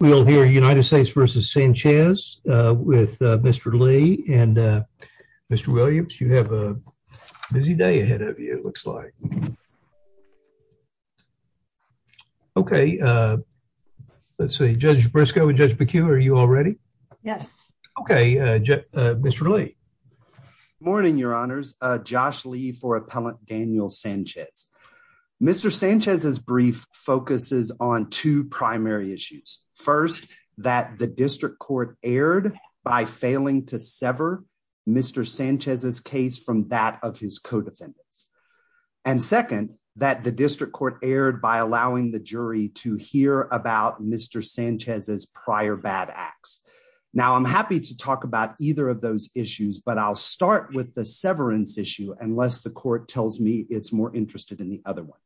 We'll hear United States versus Sanchez with Mr. Lee and Mr. Williams. You have a busy day ahead of you, it looks like. Okay, let's see. Judge Briscoe and Judge McHugh, are you all ready? Yes. Okay. Mr. Lee. Morning, Your Honors. Josh Lee for Appellant Daniel Sanchez. Mr. Sanchez's brief focuses on two primary issues. First, that the district court erred by failing to sever Mr. Sanchez's case from that of his co-defendants. And second, that the district court erred by allowing the jury to hear about Mr. Sanchez's prior bad acts. Now I'm happy to talk about either of those issues, but I'll start with the severance issue unless the court tells me it's more interested in the other one.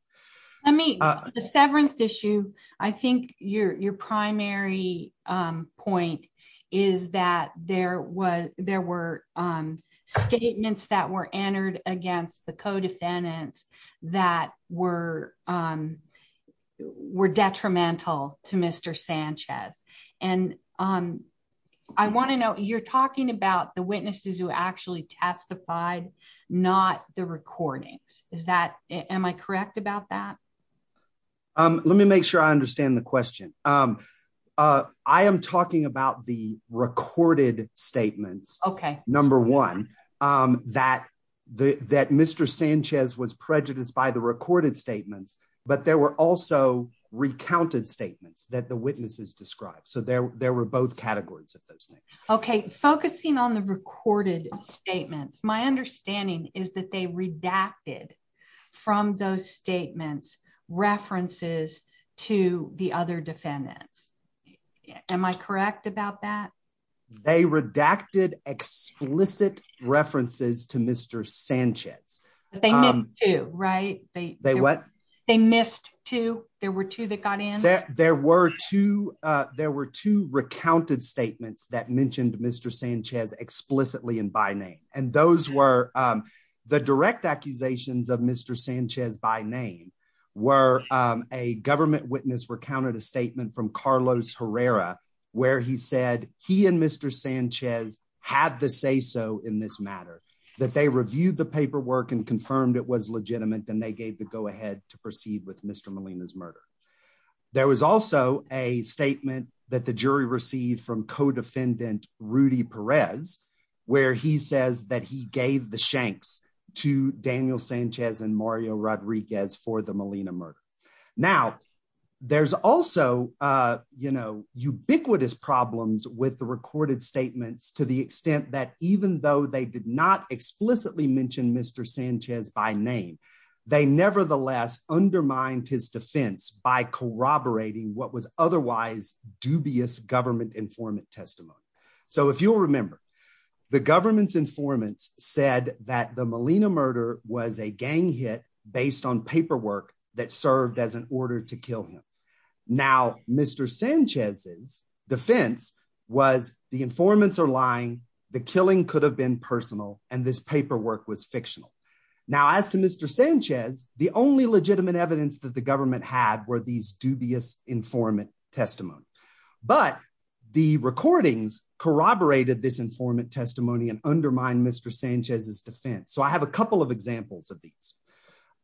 I mean, the severance issue. I think your primary point is that there were statements that were entered against the co-defendants that were detrimental to Mr. Sanchez. And I want to know, you're talking about the witnesses who actually testified, not the recordings. Is that, am I correct about that? Let me make sure I understand the question. I am talking about the recorded statements. Okay. Number one, that Mr. Sanchez was prejudiced by the recorded statements, but there were also recounted statements that the witnesses described. So there were both categories of those things. Okay. Focusing on the recorded statements, my understanding is that they redacted from those statements, references to the other defendants. Am I correct about that? They redacted explicit references to Mr. Sanchez, right? They, they, what they missed too. There were two that got in, there were two, uh, there were two recounted statements that mentioned Mr. Sanchez explicitly in by name. And those were, um, the direct accusations of Mr. Sanchez by name were, um, a government witness recounted a statement from Carlos Herrera, where he said he and Mr. Sanchez had the say-so in this matter, that they reviewed the paperwork and confirmed it was legitimate. Then they gave the go ahead to proceed with Mr. Molina's murder. There was also a statement that the jury received from co-defendant Rudy Perez, where he says that he gave the shanks to Daniel Sanchez and Mario Rodriguez for the Molina murder. Now there's also, uh, you know, ubiquitous problems with the recorded statements to the extent that even though they did not explicitly mentioned Mr. Sanchez by name, they nevertheless undermined his defense by corroborating what was otherwise dubious government informant testimony. So if you'll remember the government's informants said that the Molina murder was a gang hit based on paperwork that served as an order to kill him. Now, Mr. Sanchez's defense was the informants are lying. The killing could have been personal. And this paperwork was fictional. Now, as to Mr. Sanchez, the only legitimate evidence that the government had were these dubious informant testimony. But the recordings corroborated this informant testimony and undermine Mr. Sanchez's defense. So I have a couple of examples of these,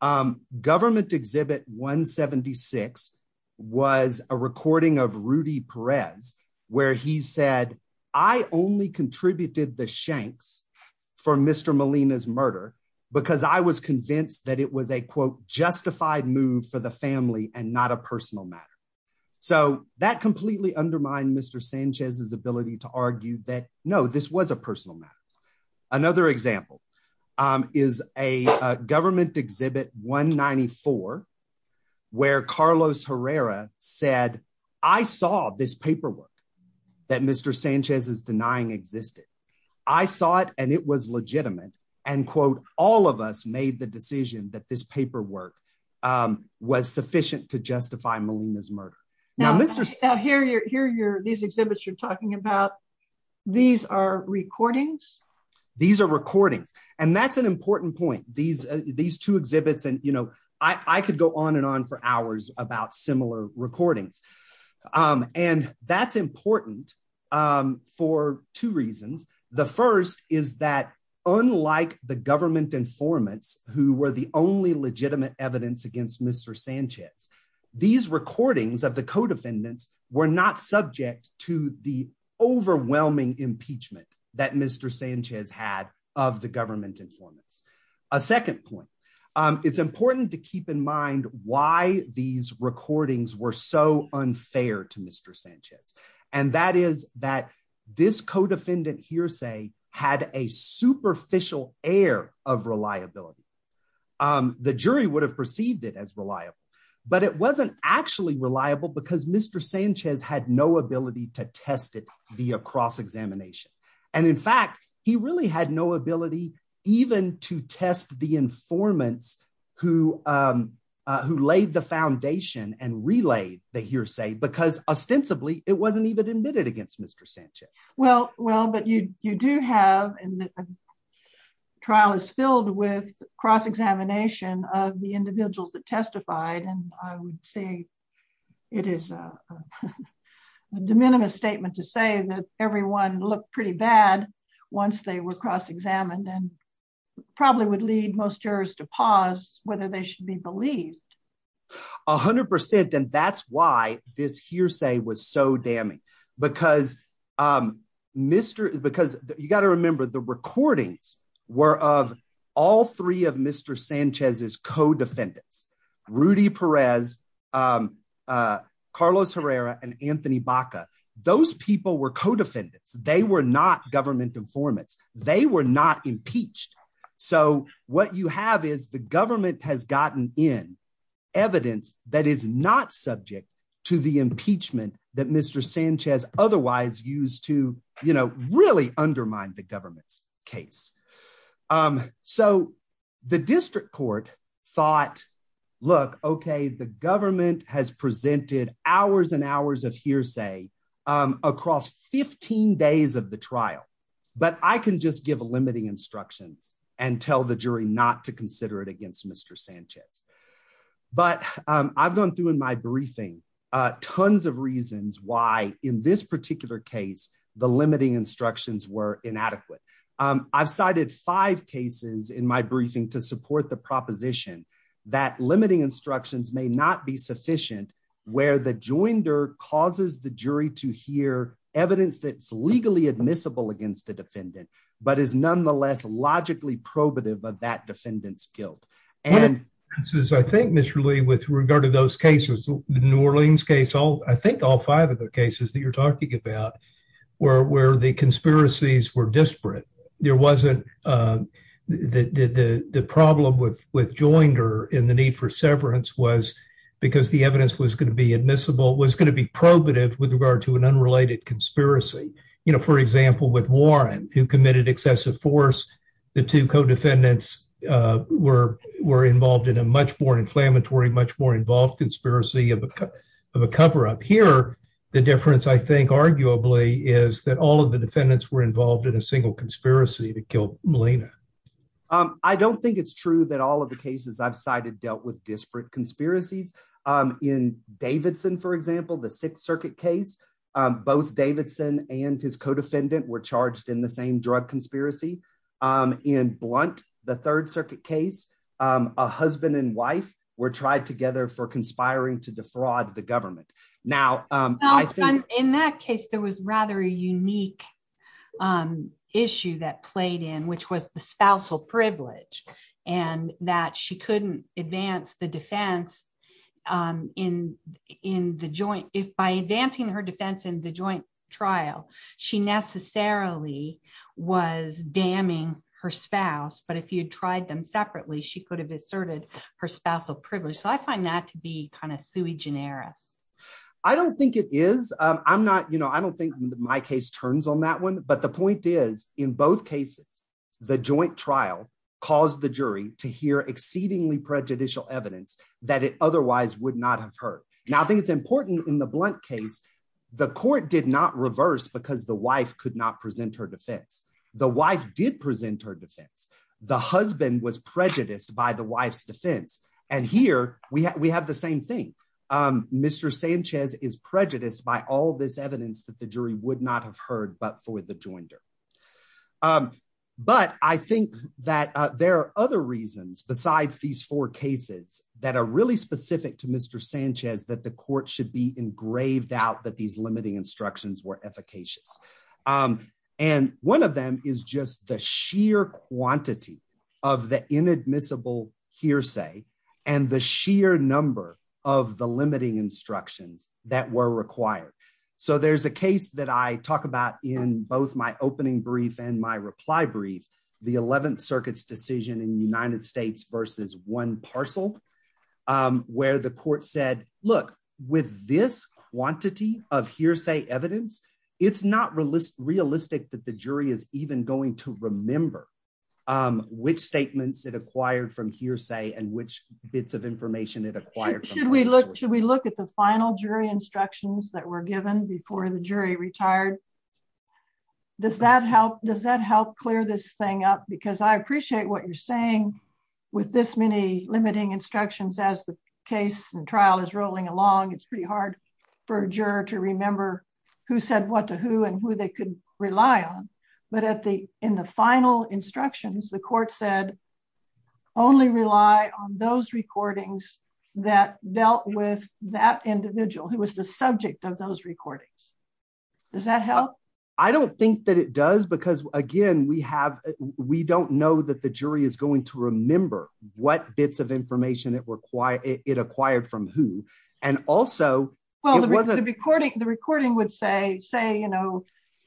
um, government exhibit 176 was a recording of Rudy Perez, where he said, I only contributed the shanks for Mr. Molina's murder because I was convinced that it was a quote justified move for the family and not a personal matter. So that completely undermined Mr. Sanchez's ability to argue that no, this was a personal matter. Another example, um, is a government exhibit 194 where Carlos Herrera said, I saw this paperwork that Mr. Sanchez is denying existed. I saw it and it was legitimate and quote, all of us made the decision that this Now, Mr. So here you're here. You're these exhibits you're talking about. These are recordings. These are recordings. And that's an important point. These, uh, these two exhibits and, you know, I could go on and on for hours about similar recordings. Um, and that's important. Um, for two reasons. The first is that unlike the government informants who were the only legitimate evidence against Mr. Sanchez, these recordings of the co-defendants were not subject to the overwhelming impeachment that Mr. Sanchez had of the government informants. A second point, um, it's important to keep in mind why these recordings were so unfair to Mr. Sanchez. And that is that this co-defendant hearsay had a superficial air of reliability. Um, the jury would have perceived it as reliable, but it wasn't actually reliable because Mr. Sanchez had no ability to test it via cross-examination. And in fact, he really had no ability even to test the informants who, um, uh, who laid the foundation and relayed the hearsay because ostensibly it wasn't even admitted against Mr. Sanchez. Well, well, but you, you do have. And the trial is filled with cross-examination of the individuals that testified. And I would say it is a de minimis statement to say that everyone looked pretty bad once they were cross-examined and probably would lead most jurors to pause, whether they should be believed. A hundred percent. And that's why this hearsay was so damning because, um, Mr. Because you got to remember the recordings were of all three of Mr. Sanchez's co-defendants, Rudy Perez, um, uh, Carlos Herrera and Anthony Baca. Those people were co-defendants. They were not government informants. They were not impeached. So what you have is the government has gotten in evidence that is not subject to the impeachment that Mr. Sanchez otherwise used to, you know, really undermine the government's case. Um, so the district court thought, look, okay, the government has presented hours and hours of hearsay, um, across 15 days of the trial, but I can just give a limiting instructions and tell the jury not to consider it against Mr. Sanchez. But, um, I've gone through in my briefing, uh, tons of reasons why in this particular case, the limiting instructions were inadequate. Um, I've cited five cases in my briefing to support the proposition that limiting instructions may not be sufficient where the joinder causes the jury to hear evidence that's legally admissible against the defendant, but is nonetheless logically probative of that defendant's guilt. And this is, I think, Mr. Lee, with regard to those cases, New Orleans case, I think all five of the cases that you're talking about where, where the conspiracies were disparate. There wasn't, um, the, the, the, the problem with, with joinder in the need for severance was because the evidence was going to be admissible, was going to be probative with regard to an unrelated conspiracy, you know, for example, with Warren who committed excessive force, the two co-defendants, uh, were, were involved in a much more inflammatory, much more involved conspiracy of a, of a cover up here. The difference I think arguably is that all of the defendants were involved in a single conspiracy to kill Melina. Um, I don't think it's true that all of the cases I've cited dealt with disparate conspiracies. Um, in Davidson, for example, the sixth circuit case, um, both Davidson and his co-defendant were charged in the same drug conspiracy. Um, in blunt, the third circuit case, um, a husband and wife were tried together for conspiring to defraud the government. Now, um, in that case, there was rather a unique, um, issue that played in, which was the spousal privilege and that she couldn't advance the defense. Um, in, in the joint, if by advancing her defense in the joint trial, she necessarily was damning her spouse, but if you tried them separately, she could have asserted her spousal privilege. So I find that to be kind of sui generis. I don't think it is. Um, I'm not, you know, I don't think my case turns on that one, but the point is in both cases, the joint trial. Cause the jury to hear exceedingly prejudicial evidence that it otherwise would not have hurt. Now I think it's important in the blunt case, the court did not reverse because the wife could not present her defense. The wife did present her defense. The husband was prejudiced by the wife's defense. And here we have, we have the same thing. Um, Mr. Sanchez is prejudiced by all this evidence that the jury would not have heard, but for the jointer. Um, but I think that, uh, there are other reasons besides these four cases that are really specific to Mr. Sanchez, that the court should be engraved out that these limiting instructions were efficacious. Um, and one of them is just the sheer quantity of the inadmissible hearsay and the sheer number of the limiting instructions that were required. So there's a case that I talk about in both my opening brief and my reply brief, the 11th circuit's decision in United States versus one parcel, um, where the it's not realistic, realistic that the jury is even going to remember, um, which statements that acquired from hearsay and which bits of information that acquired, should we look, should we look at the final jury instructions that were given before the jury retired? Does that help? Does that help clear this thing up? Because I appreciate what you're saying with this many limiting instructions as the case and trial is rolling along. It's pretty hard for a juror to remember who said what to who and who they could rely on. But at the, in the final instructions, the court said only rely on those recordings that dealt with that individual who was the subject of those recordings. Does that help? I don't think that it does because again, we have, we don't know that the jury is going to remember what bits of information that were quiet, it acquired from who, and also the recording, the recording would say, say, you know,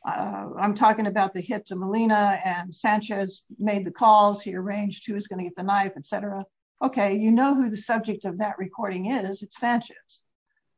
uh, I'm talking about the hits of Molina and Sanchez made the calls, he arranged who was going to get the knife, et cetera. Okay. You know who the subject of that recording is. It's Sanchez.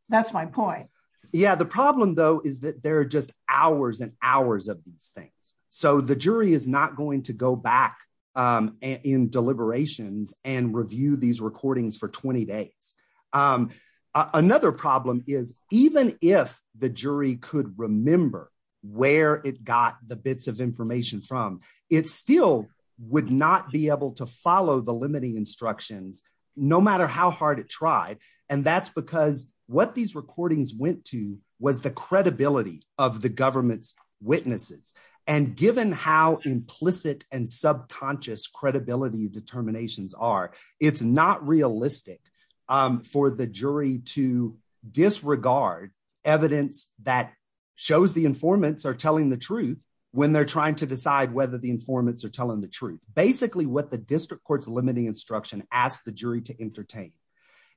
That's my point. Yeah. The problem though, is that there are just hours and hours of these things. So the jury is not going to go back, um, in deliberations and review these recordings for 20 days. Um, uh, another problem is even if the jury could remember where it got the bits of information from, it still would not be able to follow the limiting instructions, no matter how hard it tried. And that's because what these recordings went to was the credibility of the government's witnesses. And given how implicit and subconscious credibility determinations are, it's not realistic, um, for the jury to disregard evidence that shows the informants are telling the truth when they're trying to decide whether the informants are telling the truth. Basically what the district court's limiting instruction asked the jury to entertain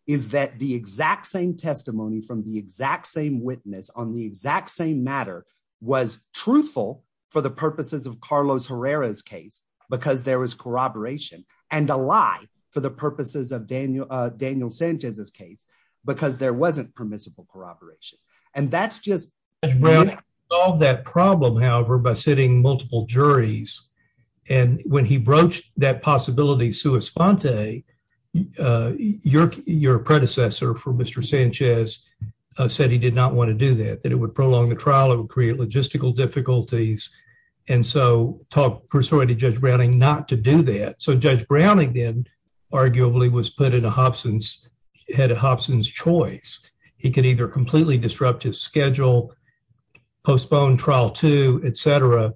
is that the exact same testimony from the exact same witness on the exact same matter was truthful for the purposes of Carlos Herrera's case, because there was corroboration and a lie for the purposes of Daniel, Daniel Sanchez's case, because there wasn't permissible corroboration. And that's just solve that problem, however, by sitting multiple juries. And when he broached that possibility, Sue Esponte, uh, your, your predecessor for Mr. Sanchez said he did not want to do that, that it would prolong the trial. It would create logistical difficulties. And so talk persuaded judge Browning not to do that. So judge Browning then arguably was put in a Hobson's, had a Hobson's choice. He could either completely disrupt his schedule, postpone trial two, et cetera.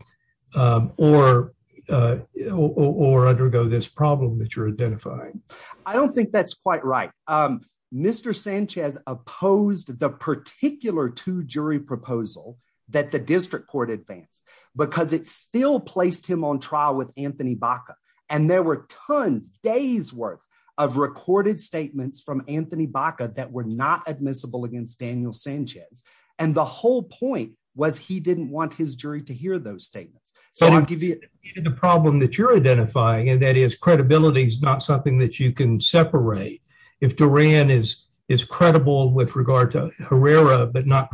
Um, or, uh, or, or undergo this problem that you're identifying. I don't think that's quite right. Um, Mr. Sanchez opposed the particular two jury proposal that the district court advanced because it still placed him on trial with Anthony Baca. And there were tons days worth of recorded statements from Anthony Baca that were not admissible against Daniel Sanchez. And the whole point was he didn't want his jury to hear those statements. So I'll give you the problem that you're identifying and that is credibility is not something that you can separate. If Duran is, is credible with regard to Herrera, but not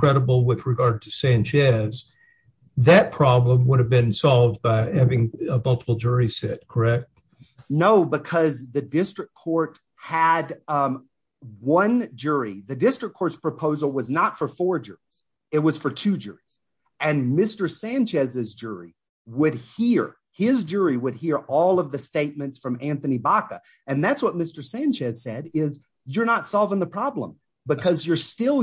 that problem would have been solved by having a multiple jury set. Correct? No, because the district court had, um, one jury, the district court's proposal was not for four jurors. It was for two jurors and Mr. Sanchez's jury would hear his jury would hear all of the statements from Anthony Baca. And that's what Mr. Sanchez said is you're not solving the problem because you're still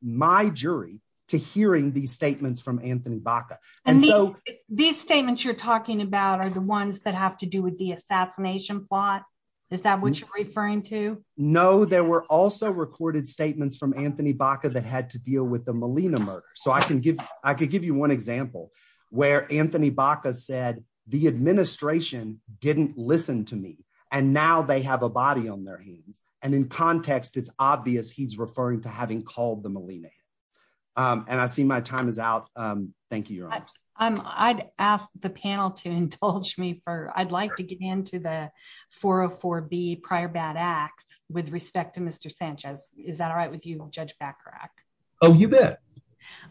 my jury to hearing these statements from Anthony Baca. And so these statements you're talking about are the ones that have to do with the assassination plot. Is that what you're referring to? No, there were also recorded statements from Anthony Baca that had to deal with the Molina murder. So I can give, I could give you one example where Anthony Baca said the administration didn't listen to me and now they have a body on their hands. And in context, it's obvious he's referring to having called the Molina. Um, and I see my time is out. Um, thank you. Um, I'd ask the panel to indulge me for, I'd like to get into the 404 B prior bad acts with respect to Mr. Sanchez. Is that all right with you? Judge Bacarach. Oh, you bet.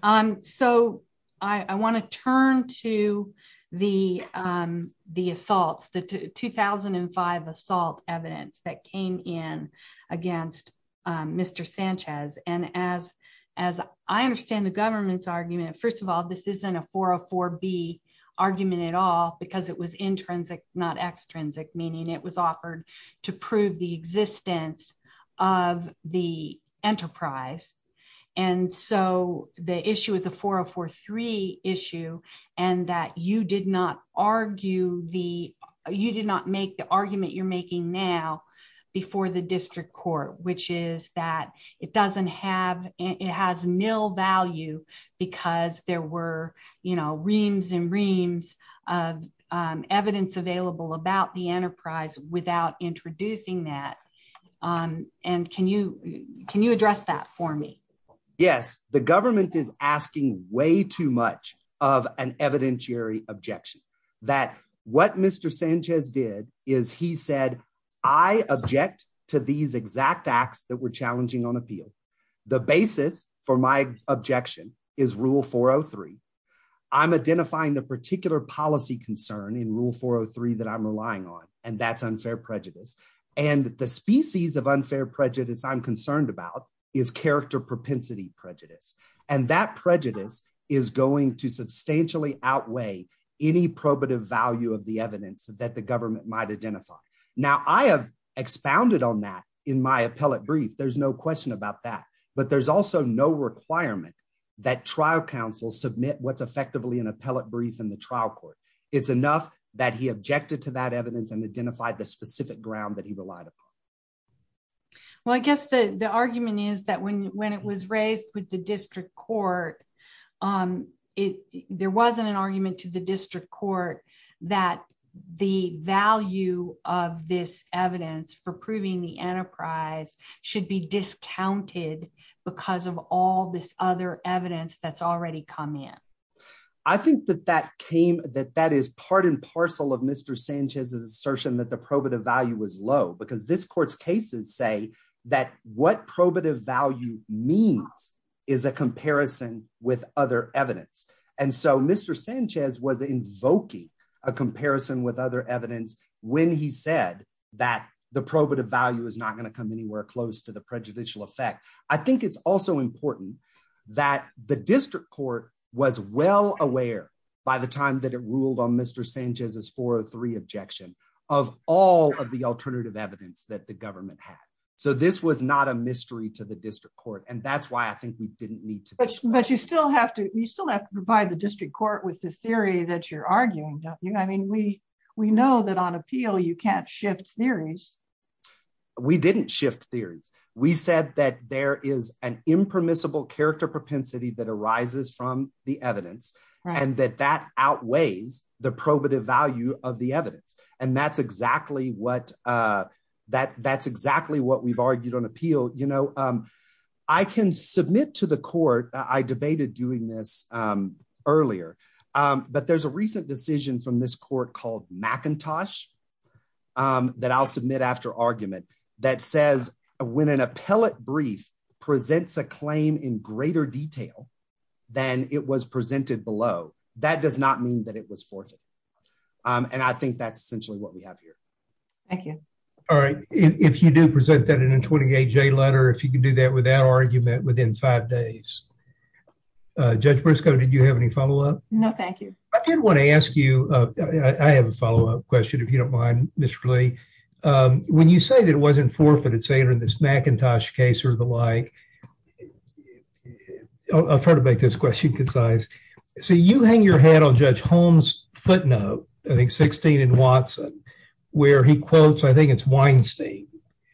Um, so I want to turn to the, um, the assaults, the 2005 assault evidence that came in against, um, Mr. Sanchez. And as, as I understand the government's argument, first of all, this isn't a 404 B argument at all because it was intrinsic, not extrinsic, meaning it was offered to prove the existence of the enterprise. And so the issue is a 404 three issue and that you did not argue the, you did not make the argument you're making now before the district court, which is that it doesn't have, it has nil value because there were, you know, reams and reams of, um, evidence available about the enterprise without introducing that. Um, and can you, can you address that for me? Yes. The government is asking way too much of an evidentiary objection that what Mr. Sanchez did is he said, I object to these exact acts that were challenging on appeal. The basis for my objection is rule 403. I'm identifying the particular policy concern in rule 403 that I'm relying on, and that's unfair prejudice. And the species of unfair prejudice I'm concerned about is character propensity prejudice. And that prejudice is going to substantially outweigh any probative value of the evidence that the government might identify. Now I have expounded on that in my appellate brief. There's no question about that, but there's also no requirement that trial counsel submit what's effectively an appellate brief in the trial court. It's enough that he objected to that evidence and identified the specific ground that he relied upon. Well, I guess the argument is that when, when it was raised with the district court, um, it, there wasn't an argument to the district court that the value of this evidence for proving the enterprise should be discounted because of all this other evidence that's already come in. I think that that came, that that is part and parcel of Mr. Sanchez's assertion that the probative value was low because this court's cases say that what probative value means is a comparison with other evidence. And so Mr. Sanchez was invoking a comparison with other evidence when he said that the probative value is not going to come anywhere close to the prejudicial effect. I think it's also important that the district court was well aware by the time that it ruled on Mr. Sanchez's 403 objection of all of the alternative evidence that the So this was not a mystery to the district court. And that's why I think we didn't need to. But you still have to, you still have to provide the district court with the theory that you're arguing. I mean, we, we know that on appeal, you can't shift theories. We didn't shift theories. We said that there is an impermissible character propensity that arises from the evidence and that that outweighs the probative value of the evidence. And that's exactly what that that's exactly what we've argued on appeal. You know I can submit to the court. I debated doing this earlier. But there's a recent decision from this court called McIntosh that I'll submit after argument that says when an appellate brief presents a claim in greater detail than it was presented below, that does not mean that it was forfeit. Um, and I think that's essentially what we have here. Thank you. All right. If you do present that in a 28 J letter, if you can do that without argument within five days, uh, judge Briscoe, did you have any follow up? No, thank you. I did want to ask you, uh, I have a follow up question if you don't mind, Mr. Lee. Um, when you say that it wasn't forfeited, say it in this Macintosh case or the like, I'll try to make this question concise. So you hang your head on judge Holmes footnote, I think 16 in Watson, where he quotes, I think it's Weinstein.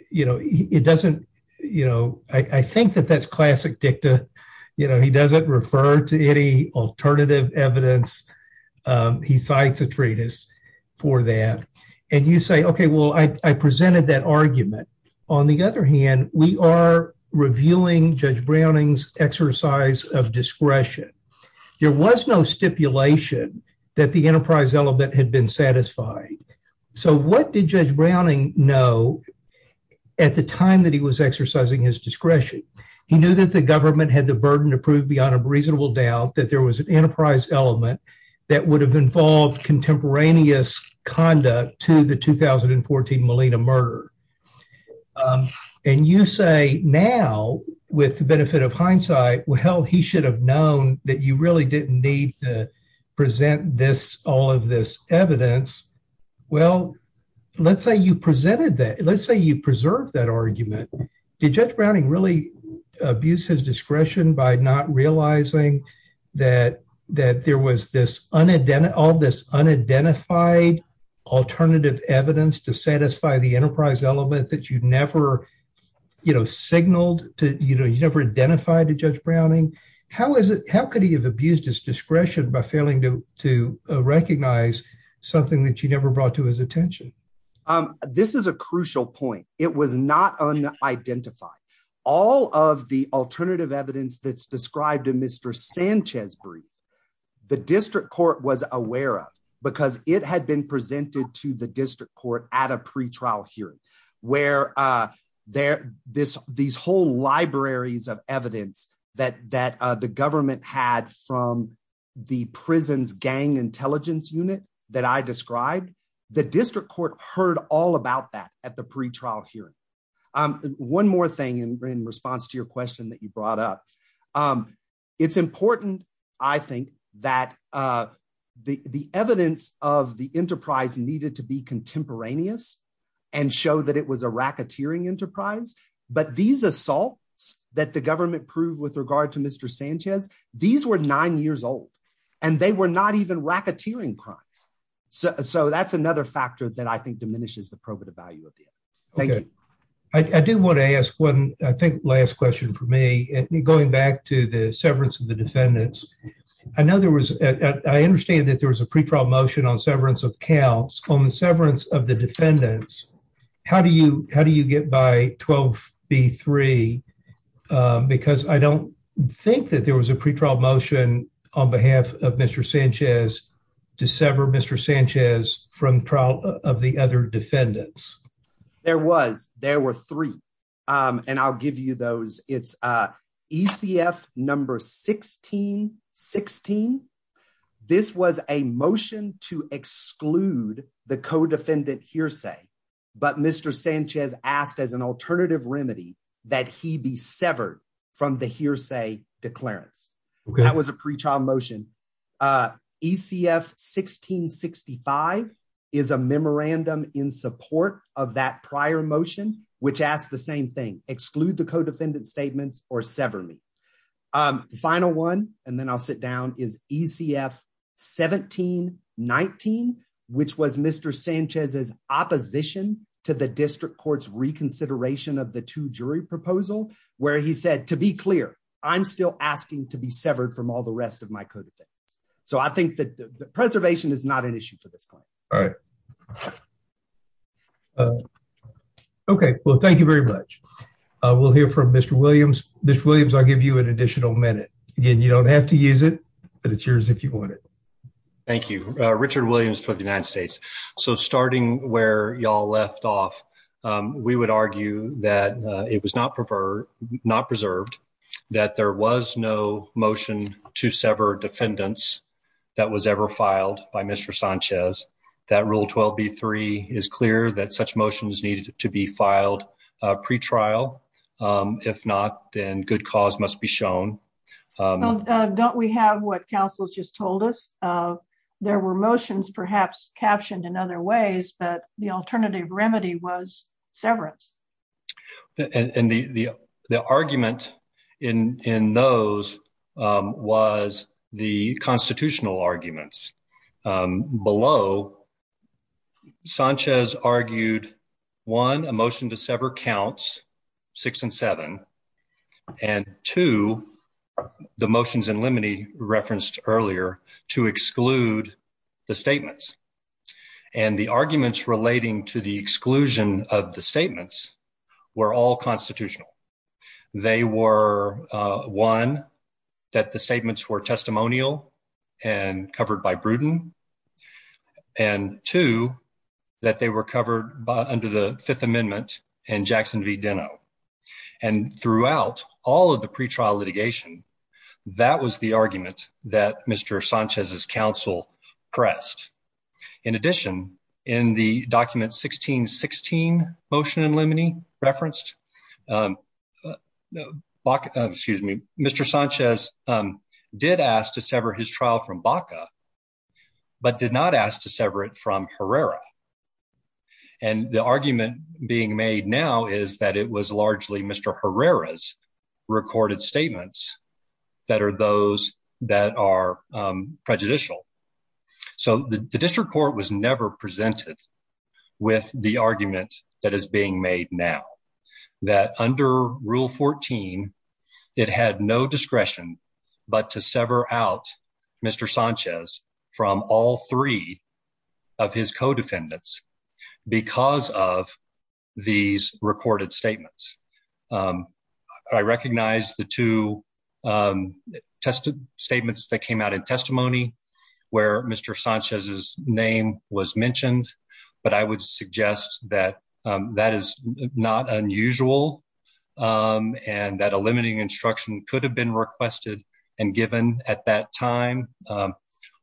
You know, it doesn't, you know, I think that that's classic dicta. You know, he doesn't refer to any alternative evidence. Um, he cites a treatise for that and you say, okay, well I presented that argument. On the other hand, we are reviewing judge Browning's exercise of discretion. There was no stipulation that the enterprise element had been satisfying. So what did judge Browning know at the time that he was exercising his discretion, he knew that the government had the burden to prove beyond a reasonable doubt that there was an enterprise element that would have involved contemporaneous conduct to the 2014 Molina murder. Um, and you say now with the benefit of hindsight, well, hell, he should have known that you really didn't need to present this, all of this evidence. Well, let's say you presented that. Let's say you preserve that argument. Did judge Browning really abuse his discretion by not realizing that, that there was this unidentified, all this unidentified alternative evidence to satisfy the enterprise element that you'd never, you know, signaled to, you know, you never identified to judge Browning. How is it, how could he have abused his discretion by failing to recognize something that you never brought to his attention? Um, this is a crucial point. It was not unidentified. All of the alternative evidence that's described in Mr. Sanchez brief, the district court was aware of because it had been presented to the district court at a pretrial hearing where, uh, there, this, these whole libraries of evidence that, that, uh, the government had from the prison's gang intelligence unit that I described. The district court heard all about that at the pretrial hearing. Um, one more thing in response to your question that you brought up, um, it's important, I think that, uh, the, the evidence of the enterprise needed to be contemporaneous and show that it was a racketeering enterprise, but these assaults that the government proved with regard to Mr. Sanchez, these were nine years old and they were not even racketeering crimes. So, so that's another factor that I think diminishes the probative value of the. Thank you. I do want to ask one, I think last question for me, going back to the severance of the defendants, I know there was, I understand that there was a pretrial motion on severance of counts on the severance of the defendants. How do you, how do you get by 12 B3? Um, because I don't think that there was a pretrial motion on behalf of Mr. Sanchez to sever Mr. Sanchez from trial of the other defendants. There was, there were three. Um, and I'll give you those it's, uh, ECF number 16, 16. This was a motion to exclude the co-defendant hearsay. But Mr. Sanchez asked as an alternative remedy that he be severed from the hearsay declarants, that was a pretrial motion. Uh, ECF 1665 is a memorandum in support of that prior motion, which asked the same thing, exclude the co-defendant statements or sever me. Um, the final one, and then I'll sit down is ECF 1719, which was Mr. Sanchez's opposition to the district court's reconsideration of the two jury proposal, where he said, to be clear, I'm still asking to be severed from all the rest of my co-defendants. So I think that the preservation is not an issue for this claim. All right. Uh, okay. Well, thank you very much. Uh, we'll hear from Mr. Williams, Mr. Williams. I'll give you an additional minute again. You don't have to use it, but it's yours if you want it. Thank you, Richard Williams for the United States. So starting where y'all left off, um, we would argue that, uh, it was not preferred, not preserved, that there was no motion to sever defendants that was ever filed by Mr. Sanchez, that rule 12B3 is clear that such motions needed to be filed. Uh, pretrial, um, if not, then good cause must be shown. Um, uh, don't we have what council's just told us, uh, there were motions perhaps captioned in other ways, but the alternative remedy was severance. And the, the, the argument in, in those, um, was the constitutional arguments. Um, below Sanchez argued one, a motion to sever counts six and seven. And two, the motions in limine referenced earlier to exclude the statements and the arguments relating to the exclusion of the statements were all constitutional. They were, uh, one, that the statements were testimonial and covered by Bruton and two, that they were covered by under the fifth amendment and Jackson v. Dino and throughout all of the pretrial litigation, that was the argument that Mr. Sanchez's council pressed. In addition, in the document 1616 motion in limine referenced, um, uh, Baca, excuse me, Mr. Sanchez, um, did ask to sever his trial from Baca, but did not ask to sever it from Herrera. And the argument being made now is that it was largely Mr. Herrera's recorded statements that are those that are, um, prejudicial. So the district court was never presented with the argument that is being made now that under rule 14, it had no discretion, but to sever out Mr. from all three of his co-defendants because of these recorded statements. Um, I recognize the two, um, tested statements that came out in testimony where Mr. Sanchez's name was mentioned, but I would suggest that, um, that is not unusual, um, and that a limiting instruction could have been requested and given at that time, um,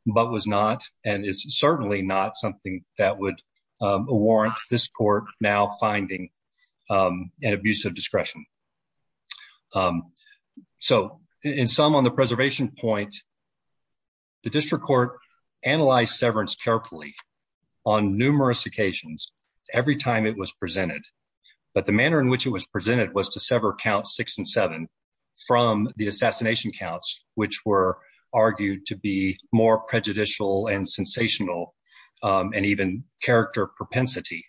but was not, and is certainly not something that would, um, warrant this court now finding, um, an abuse of discretion. Um, so in some, on the preservation point, the district court analyzed severance carefully on numerous occasions, every time it was presented. But the manner in which it was presented was to sever count six and seven from the assassination counts, which were argued to be more prejudicial and sensational, um, and even character propensity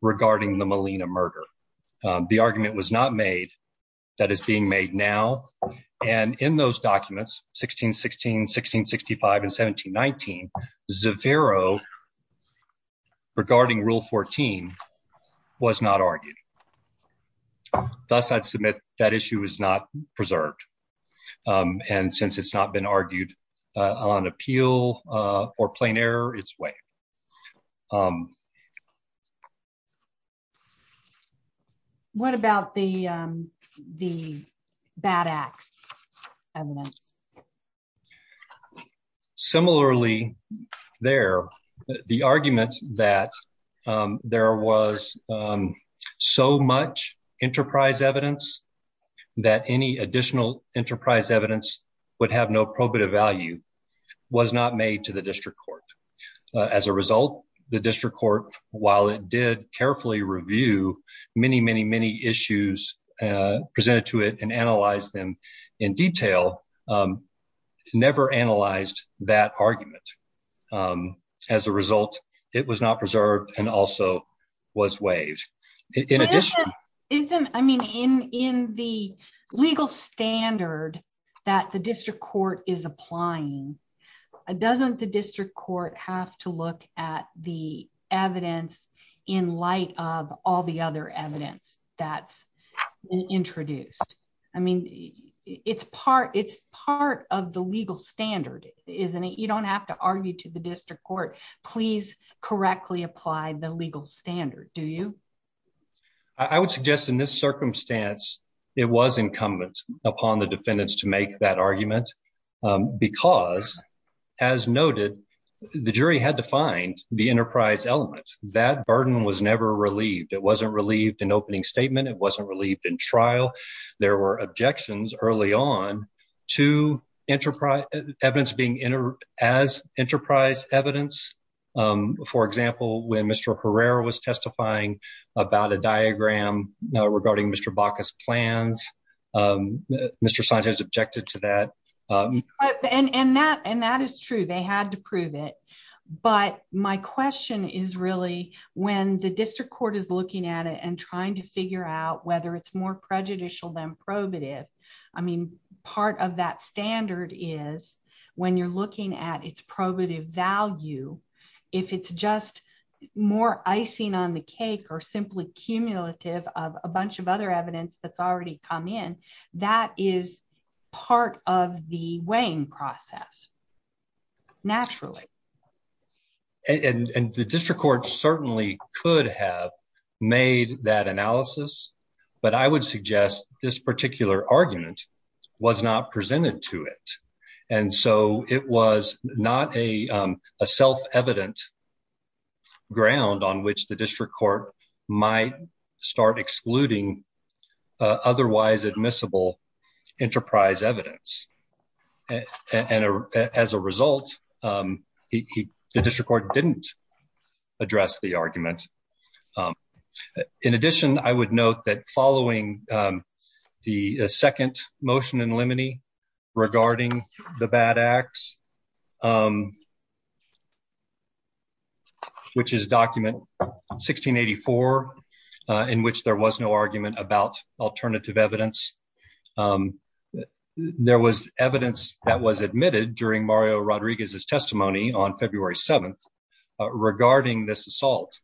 regarding the Molina murder. Um, the argument was not made that is being made now. And in those documents, 1616, 1665, and 1719, Zavero regarding rule 14 was not argued. Thus, I'd submit that issue is not preserved. Um, and since it's not been argued, uh, on appeal, uh, or plain error, it's way. Um, what about the, um, the BAD-X evidence? Similarly there, the argument that, um, there was, um, so much enterprise evidence that any additional enterprise evidence would have no probative value was not made to the district court. Uh, as a result, the district court, while it did carefully review many, many, many issues, uh, presented to it and analyze them in detail, um, never analyzed that argument. Um, as a result, it was not preserved and also was waived. In addition, I mean, in, in the legal standard that the district court is applying, doesn't the district court have to look at the evidence in light of all the other evidence that's introduced? I mean, it's part, it's part of the legal standard, isn't it? You don't have to argue to the district court, please correctly apply the legal standard. Do you? I would suggest in this circumstance, it was incumbent upon the defendants to make that argument. Um, because as noted, the jury had to find the enterprise element. That burden was never relieved. It wasn't relieved in opening statement. It wasn't relieved in trial. There were objections early on to enterprise evidence being entered as enterprise evidence. Um, for example, when Mr. Herrera was testifying about a diagram regarding Mr. Baca's plans, um, Mr. Sanchez objected to that. Um, and, and that, and that is true. They had to prove it. But my question is really when the district court is looking at it and trying to figure out whether it's more prejudicial than probative, I mean, part of that standard is when you're looking at its probative value, if it's just more icing on the cake or simply cumulative of a bunch of other evidence that's already come in, that is part of the weighing process naturally. And the district court certainly could have made that analysis, but I would suggest this particular argument was not presented to it, and so it was not a, um, a self-evident ground on which the district court might start excluding, uh, otherwise admissible enterprise evidence. And as a result, um, he, he, the district court didn't address the argument. Um, in addition, I would note that following, um, the second motion in limine regarding the bad acts, um, which is document 1684, uh, in which there was no argument about alternative evidence. Um, there was evidence that was admitted during Mario Rodriguez's testimony on February 7th regarding this assault.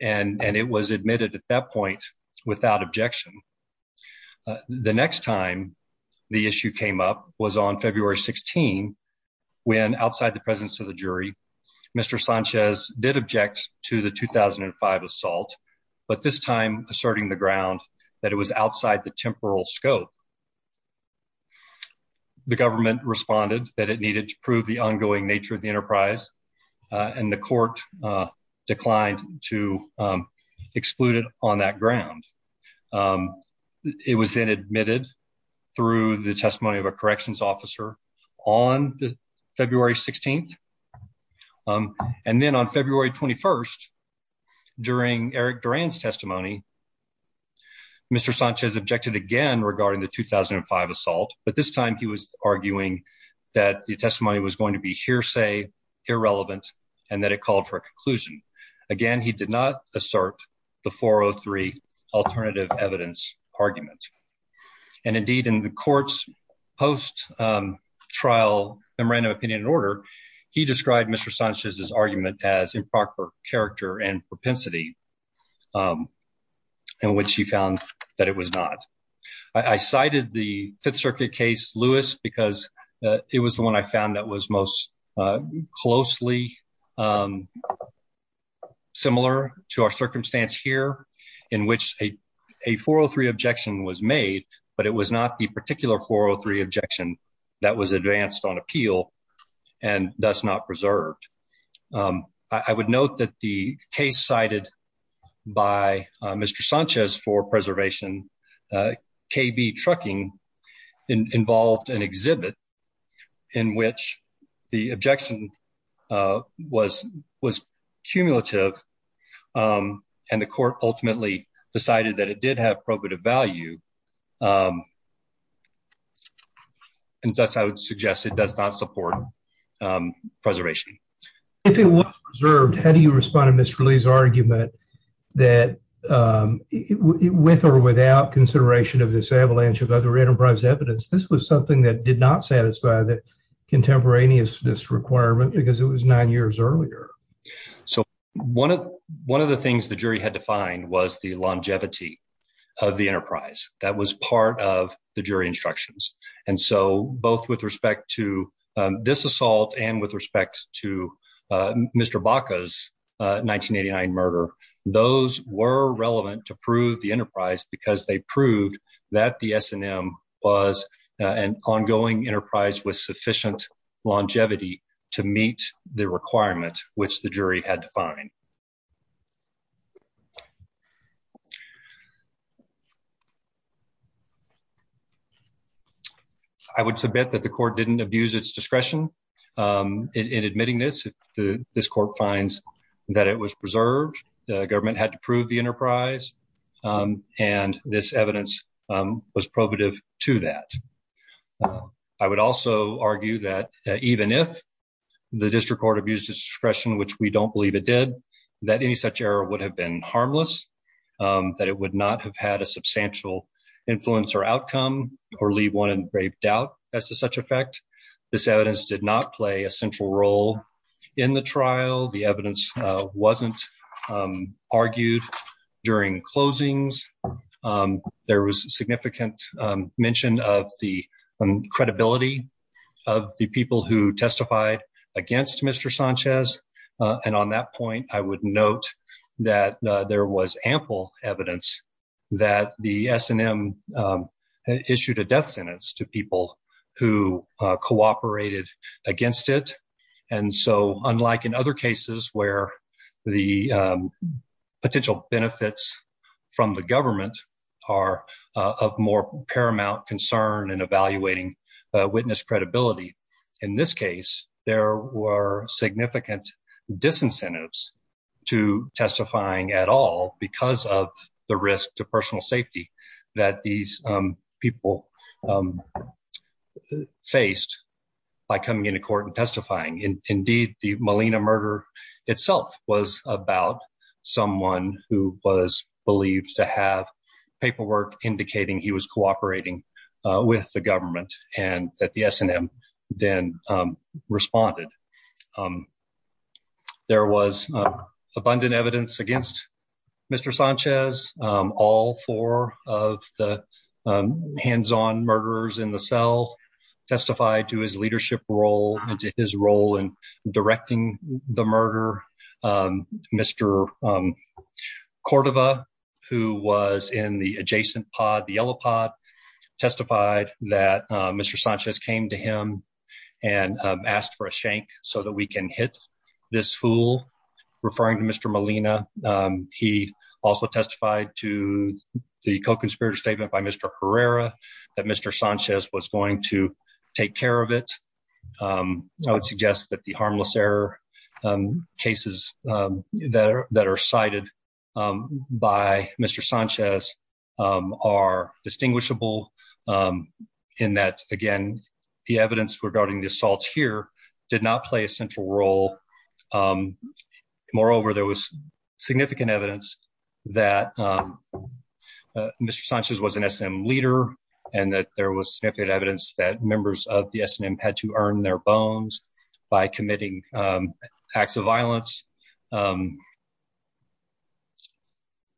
And, and it was admitted at that point without objection. Uh, the next time the issue came up was on February 16, when outside the presence of the jury, Mr. Sanchez did object to the 2005 assault, but this time asserting the ground that it was outside the temporal scope. The government responded that it needed to prove the ongoing nature of the excluded on that ground. Um, it was then admitted through the testimony of a corrections officer on February 16th. Um, and then on February 21st, during Eric Duran's testimony, Mr. Sanchez objected again regarding the 2005 assault, but this time he was arguing that the testimony was going to be hearsay, irrelevant, and that it called for a conclusion. Again, he did not assert the 403 alternative evidence argument. And indeed in the court's post, um, trial memorandum of opinion and order, he described Mr. Sanchez's argument as improper character and propensity, um, in which he found that it was not. I cited the Fifth Circuit case, Lewis, because it was the one I found that was most, uh, closely, um, similar to our circumstance here in which a 403 objection was made, but it was not the particular 403 objection that was advanced on appeal and thus not preserved. Um, I would note that the case cited by Mr. Sanchez for preservation, uh, KB trucking involved an exhibit in which the objection, uh, was, was cumulative, um, and the court ultimately decided that it did have probative value, um, and thus I would suggest it does not support, um, preservation. If it was preserved, how do you respond to Mr. Lee's argument that, um, with or without consideration of this avalanche of other enterprise evidence, this was something that did not satisfy the contemporaneous this requirement because it was nine years earlier. So one of, one of the things the jury had to find was the longevity of the enterprise. That was part of the jury instructions. And so both with respect to, um, this assault and with respect to, uh, Mr. Baca's, uh, 1989 murder, those were relevant to prove the enterprise because they proved that the S and M was an ongoing enterprise with sufficient longevity to meet the requirement, which the jury had to find. I would submit that the court didn't abuse its discretion, um, in admitting this, this court finds that it was preserved, the government had to prove the enterprise, um, and this evidence, um, was probative to that. I would also argue that even if the district court abused its discretion, which we don't believe it did, that any such error would have been harmless. Um, that it would not have had a substantial influence or outcome or leave one in grave doubt as to such effect, this evidence did not play a central role in the trial. The evidence, uh, wasn't, um, argued during closings. Um, there was significant, um, mention of the credibility of the people who testified against Mr. Sanchez. Uh, and on that point, I would note that, uh, there was ample evidence that the S and M, um, issued a death sentence to people who, uh, cooperated against it. And so unlike in other cases where the, um, potential benefits from the government are, uh, of more paramount concern and evaluating, uh, witness credibility, in this case, there were significant disincentives to testifying at all because of the risk to personal safety that these, um, people, um, faced by coming into court and testifying. And indeed the Molina murder itself was about someone who was believed to have paperwork indicating he was cooperating, uh, with the government and that the S and M then, um, responded. Um, there was abundant evidence against Mr. Sanchez, um, all four of the, um, hands-on murderers in the cell testified to his leadership role and to his role in directing the murder, um, Mr. Um, Cordova, who was in the adjacent pod, the yellow pod, testified that, um, Mr. Sanchez came to him and, um, asked for a shank so that we can hit this fool. Referring to Mr. Molina, um, he also testified to the co-conspirator statement by Mr. Herrera that Mr. Sanchez was going to take care of it. Um, I would suggest that the harmless error, um, cases, um, that are, that are cited, um, by Mr. Sanchez, um, are distinguishable, um, in that again, the evidence regarding the assaults here did not play a central role. Um, moreover, there was significant evidence that, um, uh, Mr. Sanchez was an S and M leader and that there was significant evidence that members of the S and M had to earn their bones by committing, um, acts of violence. Um,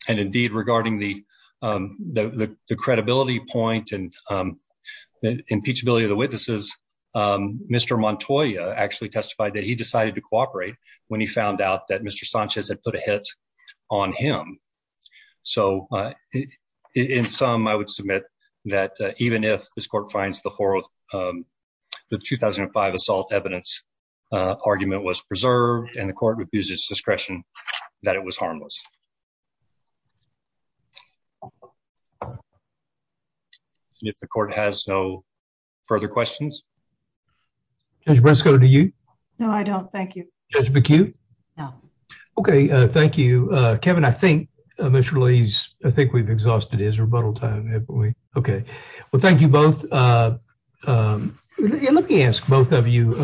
and indeed regarding the, um, the, the, the credibility point and, um, impeachability of the witnesses, um, Mr. Montoya actually testified that he decided to cooperate when he found out that Mr. Sanchez had put a hit on him. So, uh, in some, I would submit that, uh, even if this court finds the horrible, um, the 2005 assault evidence, uh, argument was preserved and the court would use its discretion that it was harmless, if the court has no further questions. Judge Briscoe. Do you know? I don't. Thank you, Judge McHugh. Okay. Uh, thank you, Kevin. I think initially he's, I think we've exhausted his rebuttal time. If we, okay, well, thank you both. Uh, um, let me ask both of you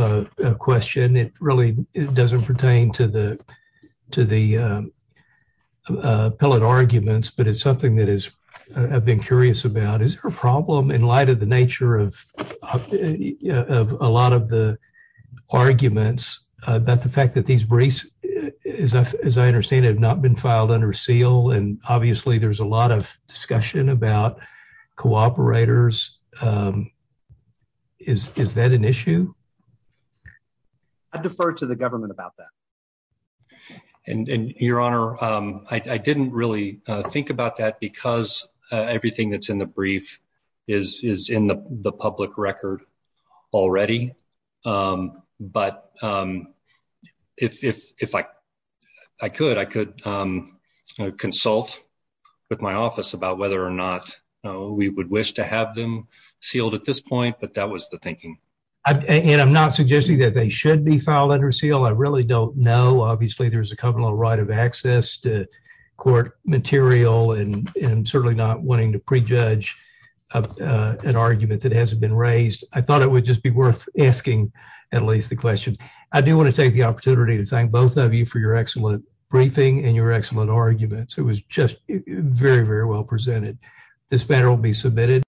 a question. It really doesn't pertain to the, to the, um, uh, pellet arguments, but it's something that is, I've been curious about, is there a problem in light of the nature of, uh, of a lot of the arguments, uh, about the fact that these briefs is, as I understand, have not been filed under seal. And obviously there's a lot of discussion about cooperators. Um, is, is that an issue? I defer to the government about that. And, and your honor, um, I didn't really think about that because, uh, everything that's in the brief is, is in the public record already. Um, but, um, if, if, if I, I could, I could, um, consult with my office about whether or not we would wish to have them sealed at this point, but that was the thinking. I, and I'm not suggesting that they should be filed under seal. I really don't know. Obviously there's a covenant of right of access to court material and certainly not wanting to prejudge, uh, uh, an argument that hasn't been raised. I thought it would just be worth asking at least the question. I do want to take the opportunity to thank both of you for your excellent briefing and your excellent arguments. It was just very, very well presented. This matter will be submitted.